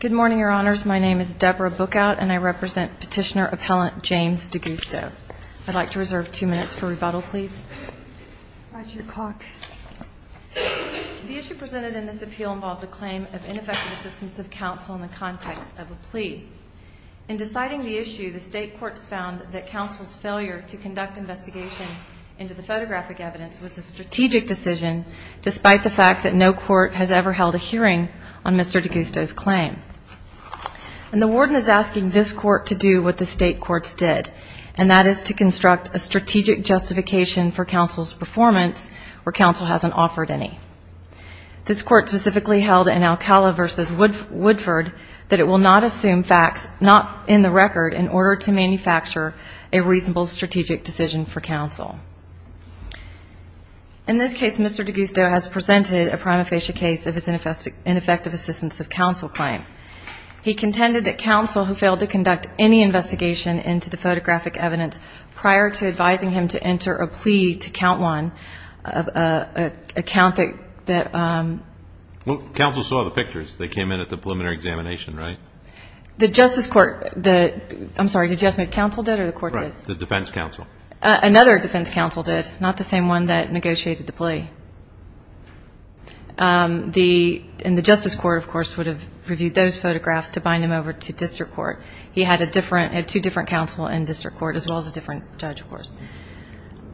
Good morning, Your Honors. My name is Deborah Bookout, and I represent Petitioner-Appellant James D'Agusto. I'd like to reserve two minutes for rebuttal, please. The issue presented in this appeal involves a claim of ineffective assistance of counsel in the context of a plea. In deciding the issue, the State Courts found that counsel's failure to conduct investigation into the photographic evidence was a strategic decision, despite the fact that no court has ever held a hearing on Mr. D'Agusto's claim. And the warden is asking this court to do what the State Courts did, and that is to construct a strategic justification for counsel's performance where counsel hasn't offered any. This court specifically held in Alcala v. Woodford that it will not assume facts not in the record in order to manufacture a reasonable strategic decision for counsel. In this case, Mr. D'Agusto has presented a prima facie case of his ineffective assistance of counsel claim. He contended that counsel who failed to conduct any investigation into the photographic evidence prior to advising him to enter a plea to count one, a count that... Well, counsel saw the pictures. They came in at the preliminary examination, right? The Justice Court, the... I'm sorry, did you ask me if counsel did or the court did? Right, the defense counsel. Another defense counsel did, not the same one that negotiated the plea. And the Justice Court, of course, would have reviewed those photographs to bind him over to district court. He had two different counsel in district court, as well as a different judge, of course.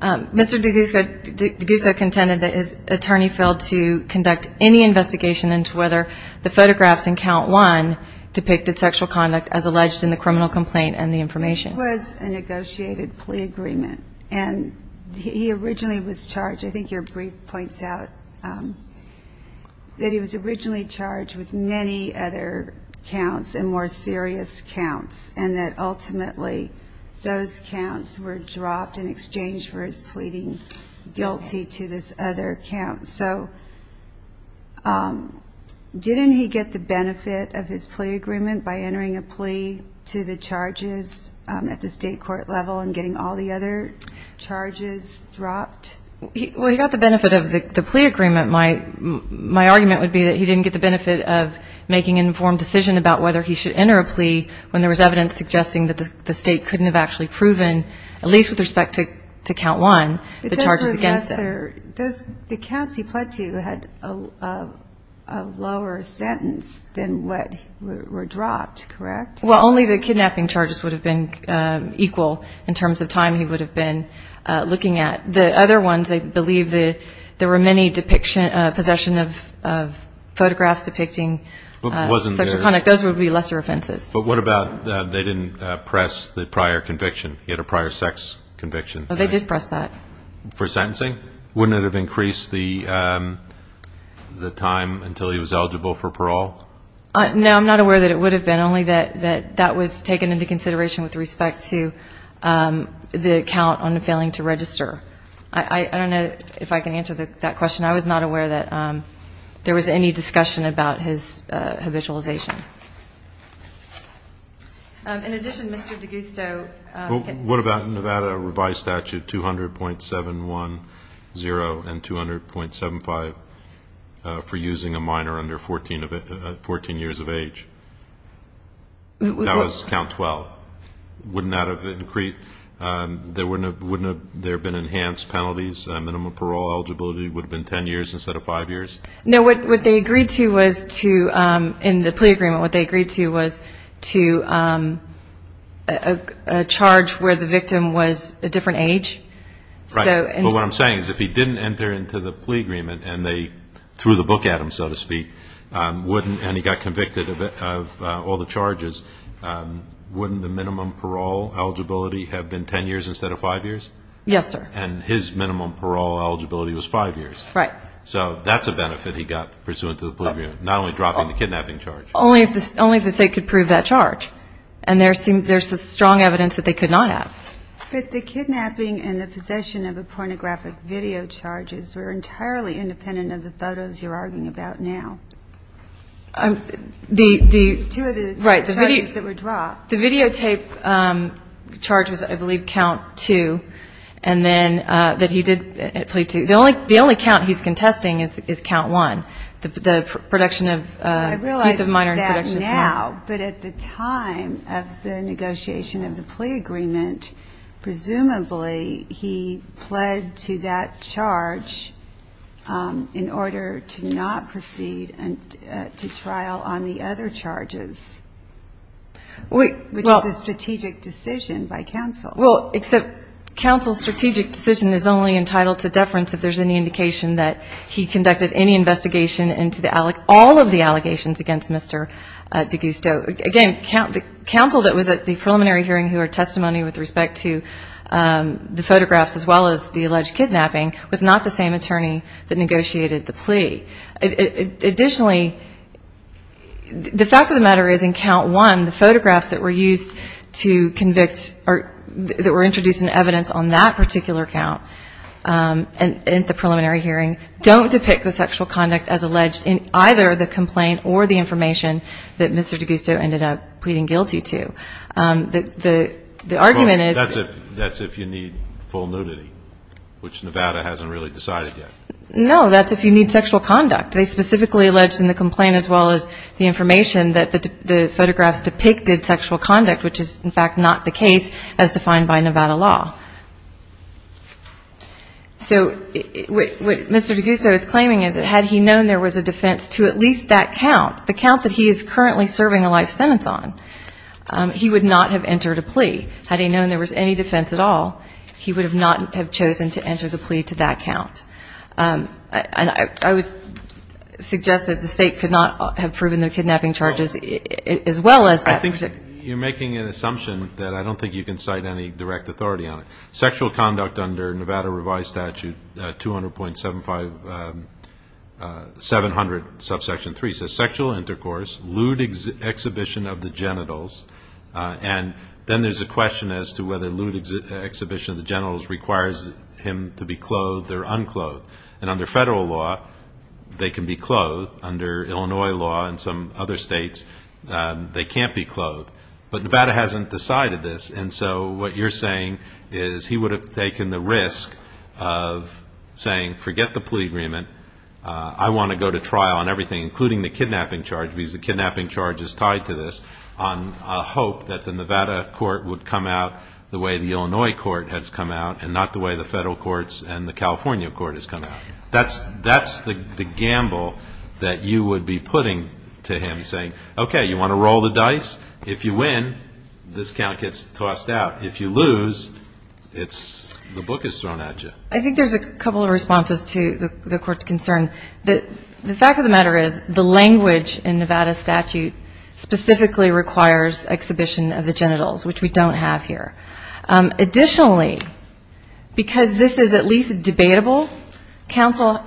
Mr. D'Agusto contended that his attorney failed to conduct any investigation into whether the photographs in count one depicted sexual conduct as alleged in the criminal complaint and the information. It was a negotiated plea agreement. And he originally was charged, I think your brief points out, that he was originally charged with many other counts and more serious counts, and that ultimately those counts were dropped in exchange for his pleading guilty to this other count. So didn't he get the benefit of his plea agreement by entering a plea to the charges at the state court level and getting all the other charges dropped? Well, he got the benefit of the plea agreement. My argument would be that he didn't get the benefit of making an informed decision about whether he should enter a plea when there was evidence suggesting that the state couldn't have actually proven, at least with respect to count one, the charges against him. The counts he pled to had a lower sentence than what were dropped, correct? Well, only the kidnapping charges would have been equal in terms of time he would have been looking at. The other ones, I believe there were many possession of photographs depicting sexual conduct. Those would be lesser offenses. But what about they didn't press the prior conviction? He had a prior sex conviction. They did press that. For sentencing? Wouldn't it have increased the time until he was eligible for parole? No, I'm not aware that it would have been, only that that was taken into consideration with respect to the count on failing to register. I don't know if I can answer that question. I was not aware that there was any discussion about his habitualization. In addition, Mr. DeGusto can ---- What about Nevada revised statute 200.710 and 200.75 for using a minor under 14 years of age? That was count 12. Wouldn't that have increased? Wouldn't there have been enhanced penalties? Minimum parole eligibility would have been 10 years instead of five years? No, what they agreed to was to, in the plea agreement, what they agreed to was to a charge where the victim was a different age. Right. But what I'm saying is if he didn't enter into the plea agreement and they threw the book at him, so to speak, and he got convicted of all the charges, wouldn't the minimum parole eligibility have been 10 years instead of five years? Yes, sir. And his minimum parole eligibility was five years. Right. So that's a benefit he got pursuant to the plea agreement, not only dropping the kidnapping charge. Only if the State could prove that charge. And there's some strong evidence that they could not have. But the kidnapping and the possession of the pornographic video charges were entirely independent of the photos you're arguing about now. The ---- Two of the charges that were dropped. The videotape charge was, I believe, count two, and then that he did at plea two. The only count he's contesting is count one, the production of a piece of minor in production of porn. I realize that now, but at the time of the negotiation of the plea agreement, presumably he pled to that charge in order to not proceed to trial on the other charges, which is a strategic decision by counsel. Well, except counsel's strategic decision is only entitled to deference if there's any indication that he conducted any investigation into all of the allegations against Mr. DeGusto. Again, counsel that was at the preliminary hearing who had testimony with respect to the photographs as well as the alleged kidnapping was not the same attorney that negotiated the plea. Additionally, the fact of the matter is in count one, the photographs that were used to convict or that were introduced in evidence on that particular count, in the preliminary hearing, don't depict the sexual conduct as alleged in either the complaint or the information that Mr. DeGusto ended up pleading guilty to. The argument is that's if you need full nudity, which Nevada hasn't really decided yet. No, that's if you need sexual conduct. They specifically alleged in the complaint as well as the information that the photographs depicted sexual conduct, which is, in fact, not the case as defined by Nevada law. So what Mr. DeGusto is claiming is that had he known there was a defense to at least that count, the count that he is currently serving a life sentence on, he would not have entered a plea. Had he known there was any defense at all, he would not have chosen to enter the plea to that count. And I would suggest that the State could not have proven the kidnapping charges as well as that. I think you're making an assumption that I don't think you can cite any direct authority on it. Sexual conduct under Nevada revised statute 200.75, 700, subsection 3, says sexual intercourse, lewd exhibition of the genitals, and then there's a question as to whether lewd exhibition of the genitals requires him to be clothed or unclothed. And under federal law, they can be clothed. Under Illinois law and some other states, they can't be clothed. But Nevada hasn't decided this, and so what you're saying is he would have taken the risk of saying, forget the plea agreement, I want to go to trial on everything, including the kidnapping charge, because the kidnapping charge is tied to this, on hope that the Nevada court would come out the way the Illinois court has come out and not the way the federal courts and the California court has come out. That's the gamble that you would be putting to him, saying, okay, you want to roll the dice? If you win, this count gets tossed out. If you lose, the book is thrown at you. I think there's a couple of responses to the court's concern. The fact of the matter is the language in Nevada statute specifically requires exhibition of the genitals, which we don't have here. Additionally, because this is at least debatable, counsel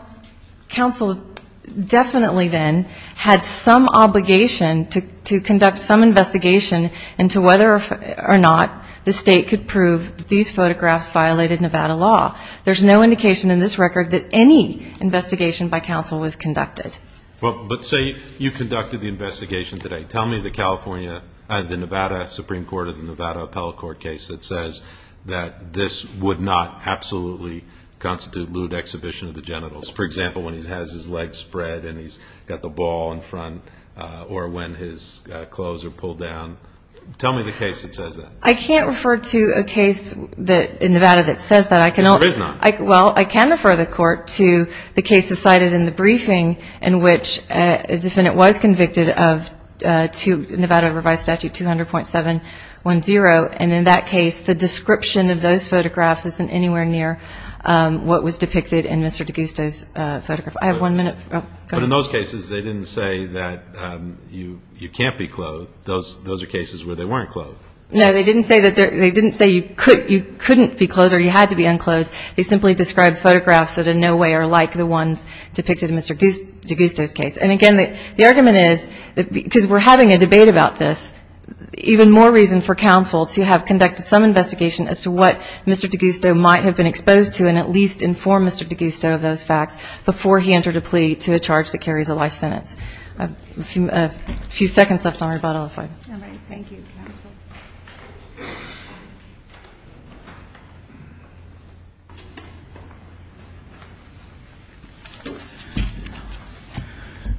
definitely then had some obligation to conduct some investigation into whether or not the state could prove that these photographs violated Nevada law. There's no indication in this record that any investigation by counsel was conducted. Well, but say you conducted the investigation today. Tell me the Nevada Supreme Court or the Nevada appellate court case that says that this would not absolutely constitute lewd exhibition of the genitals. For example, when he has his legs spread and he's got the ball in front or when his clothes are pulled down. Tell me the case that says that. I can't refer to a case in Nevada that says that. There is not. Well, I can refer the court to the cases cited in the briefing in which a defendant was convicted of Nevada Revised Statute 200.710, and in that case the description of those photographs isn't anywhere near what was depicted in Mr. D'Agusto's photograph. I have one minute. But in those cases they didn't say that you can't be clothed. Those are cases where they weren't clothed. No, they didn't say you couldn't be clothed or you had to be unclothed. They simply described photographs that in no way are like the ones depicted in Mr. D'Agusto's case. And, again, the argument is because we're having a debate about this, even more reason for counsel to have conducted some investigation as to what Mr. D'Agusto might have been exposed to and at least informed Mr. D'Agusto of those facts before he entered a plea to a charge that carries a life sentence. A few seconds left on rebuttal. All right. Thank you, counsel.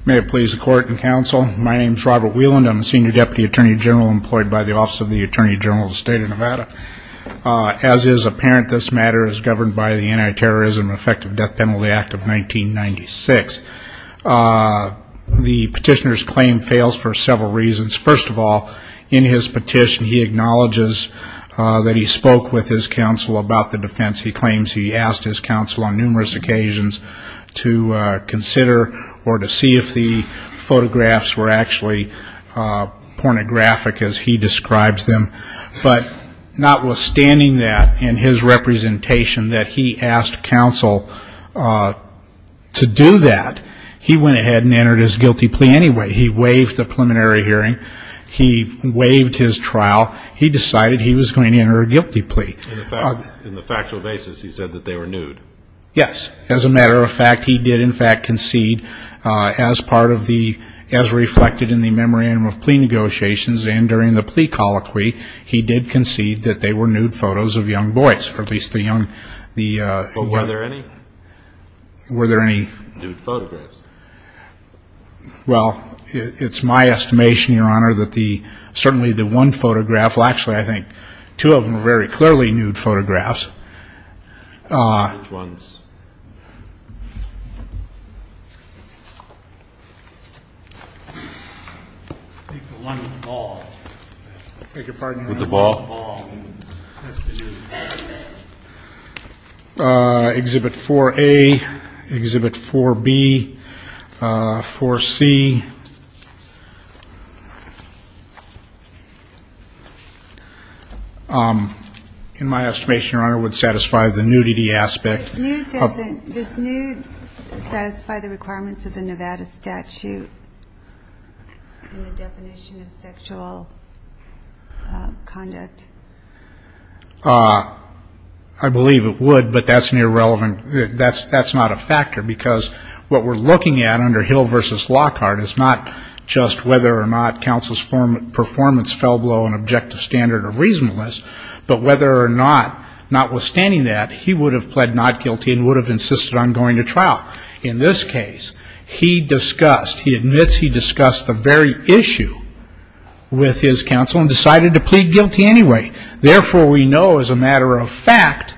May it please the Court and counsel, my name is Robert Wieland. I'm a senior deputy attorney general employed by the Office of the Attorney General of the State of Nevada. As is apparent, this matter is governed by the Anti-Terrorism and Effective Death Penalty Act of 1996. The petitioner's claim fails for several reasons. First of all, in his petition he acknowledges that he spoke with his counsel about the defense. He claims he asked his counsel on numerous occasions to consider or to see if the photographs were actually pornographic as he describes them. But notwithstanding that in his representation that he asked counsel to do that, he went ahead and entered his guilty plea anyway. He waived the preliminary hearing. He waived his trial. He decided he was going to enter a guilty plea. In the factual basis, he said that they were nude. Yes. As a matter of fact, he did in fact concede as part of the as reflected in the memorandum of plea negotiations and during the plea colloquy, he did concede that they were nude photos of young boys, or at least the young. Were there any? Were there any nude photographs? Well, it's my estimation, Your Honor, that certainly the one photograph, well actually I think two of them were very clearly nude photographs. Which ones? I think the one with the ball. I beg your pardon? With the ball. Exhibit 4A, Exhibit 4B, 4C. In my estimation, Your Honor, it would satisfy the nudity aspect. Does nude satisfy the requirements of the Nevada statute in the definition of sexual conduct? I believe it would, but that's not a factor because what we're looking at under Hill v. Lockhart is not just whether or not counsel's performance fell below an objective standard of reasonableness, but whether or not, notwithstanding that, he would have pled not guilty and would have insisted on going to trial. In this case, he admits he discussed the very issue with his counsel and decided to plead guilty anyway. Therefore, we know as a matter of fact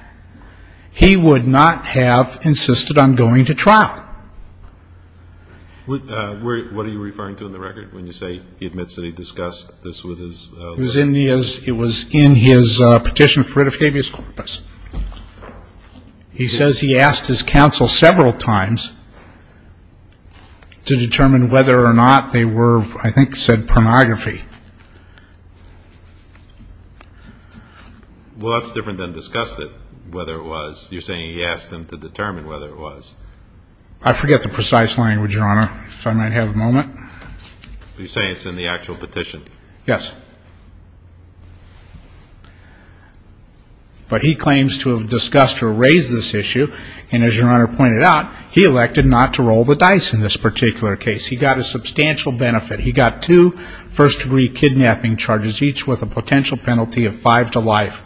he would not have insisted on going to trial. What are you referring to in the record when you say he admits that he discussed this with his lawyer? It was in his petition for rid of habeas corpus. He says he asked his counsel several times to determine whether or not they were, I think, said pornography. Well, that's different than discussed it, whether it was. You're saying he asked them to determine whether it was. I forget the precise language, Your Honor, if I might have a moment. You're saying it's in the actual petition? Yes. But he claims to have discussed or raised this issue, and as Your Honor pointed out, he elected not to roll the dice in this particular case. He got a substantial benefit. He got two first-degree kidnapping charges, each with a potential penalty of five to life,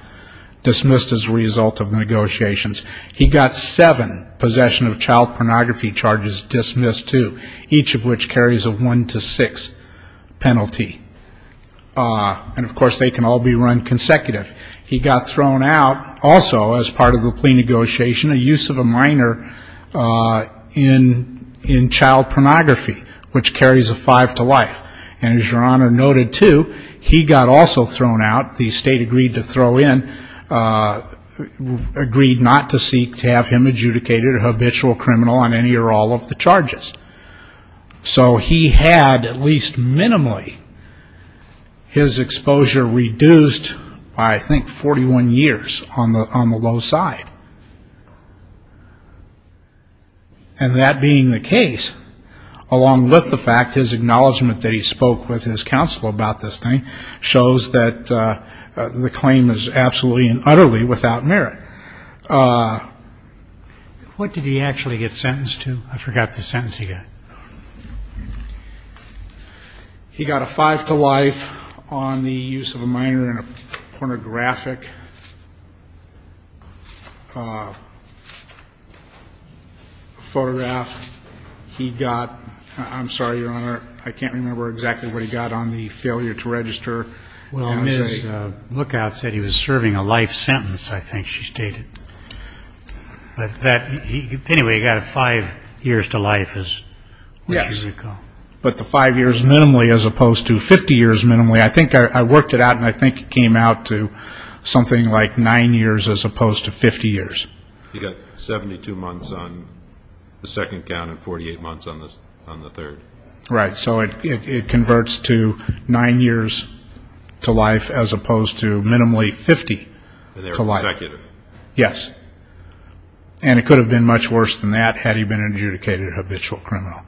dismissed as a result of the negotiations. He got seven possession of child pornography charges dismissed, too, each of which carries a one to six penalty. And, of course, they can all be run consecutive. He got thrown out also as part of the plea negotiation a use of a minor in child pornography, which carries a five to life. And as Your Honor noted, too, he got also thrown out. The state agreed to throw in, agreed not to seek to have him adjudicated a habitual criminal on any or all of the charges. So he had at least minimally his exposure reduced by, I think, 41 years on the low side. And that being the case, along with the fact his acknowledgement that he spoke with his counsel about this thing shows that the claim is absolutely and utterly without merit. What did he actually get sentenced to? I forgot the sentence he got. He got a five to life on the use of a minor in a pornographic photograph. He got, I'm sorry, Your Honor, I can't remember exactly what he got on the failure to register. Well, Ms. Lookout said he was serving a life sentence, I think she stated. Anyway, he got a five years to life, as you recall. Yes, but the five years minimally as opposed to 50 years minimally. I think I worked it out, and I think it came out to something like nine years as opposed to 50 years. He got 72 months on the second count and 48 months on the third. Right, so it converts to nine years to life as opposed to minimally 50 to life. And they were consecutive. Yes. And it could have been much worse than that had he been adjudicated a habitual criminal.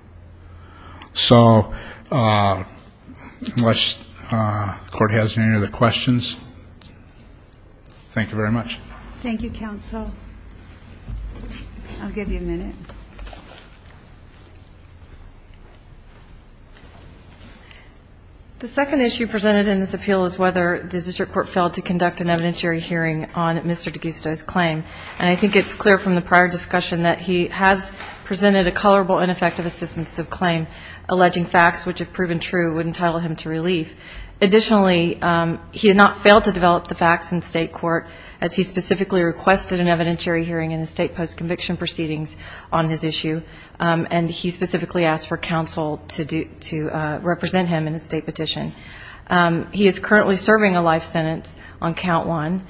So unless the Court has any other questions, thank you very much. Thank you, counsel. I'll give you a minute. The second issue presented in this appeal is whether the district court failed to conduct an evidentiary hearing on Mr. D'Agusto's claim. And I think it's clear from the prior discussion that he has presented a colorable ineffective assistance of claim, alleging facts which, if proven true, would entitle him to relief. Additionally, he had not failed to develop the facts in state court, as he specifically requested an evidentiary hearing in a state post-conviction proceedings on his issue. And he specifically asked for counsel to represent him in a state petition. He is currently serving a life sentence on count one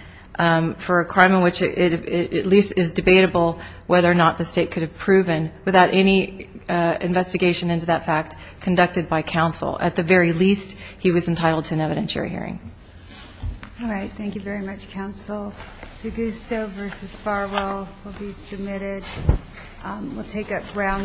for a crime in which it at least is debatable whether or not the state could have proven without any investigation into that fact conducted by counsel. At the very least, he was entitled to an evidentiary hearing. All right. Thank you very much, counsel. D'Agusto v. Farwell will be submitted. We'll take up Brown v. Hall.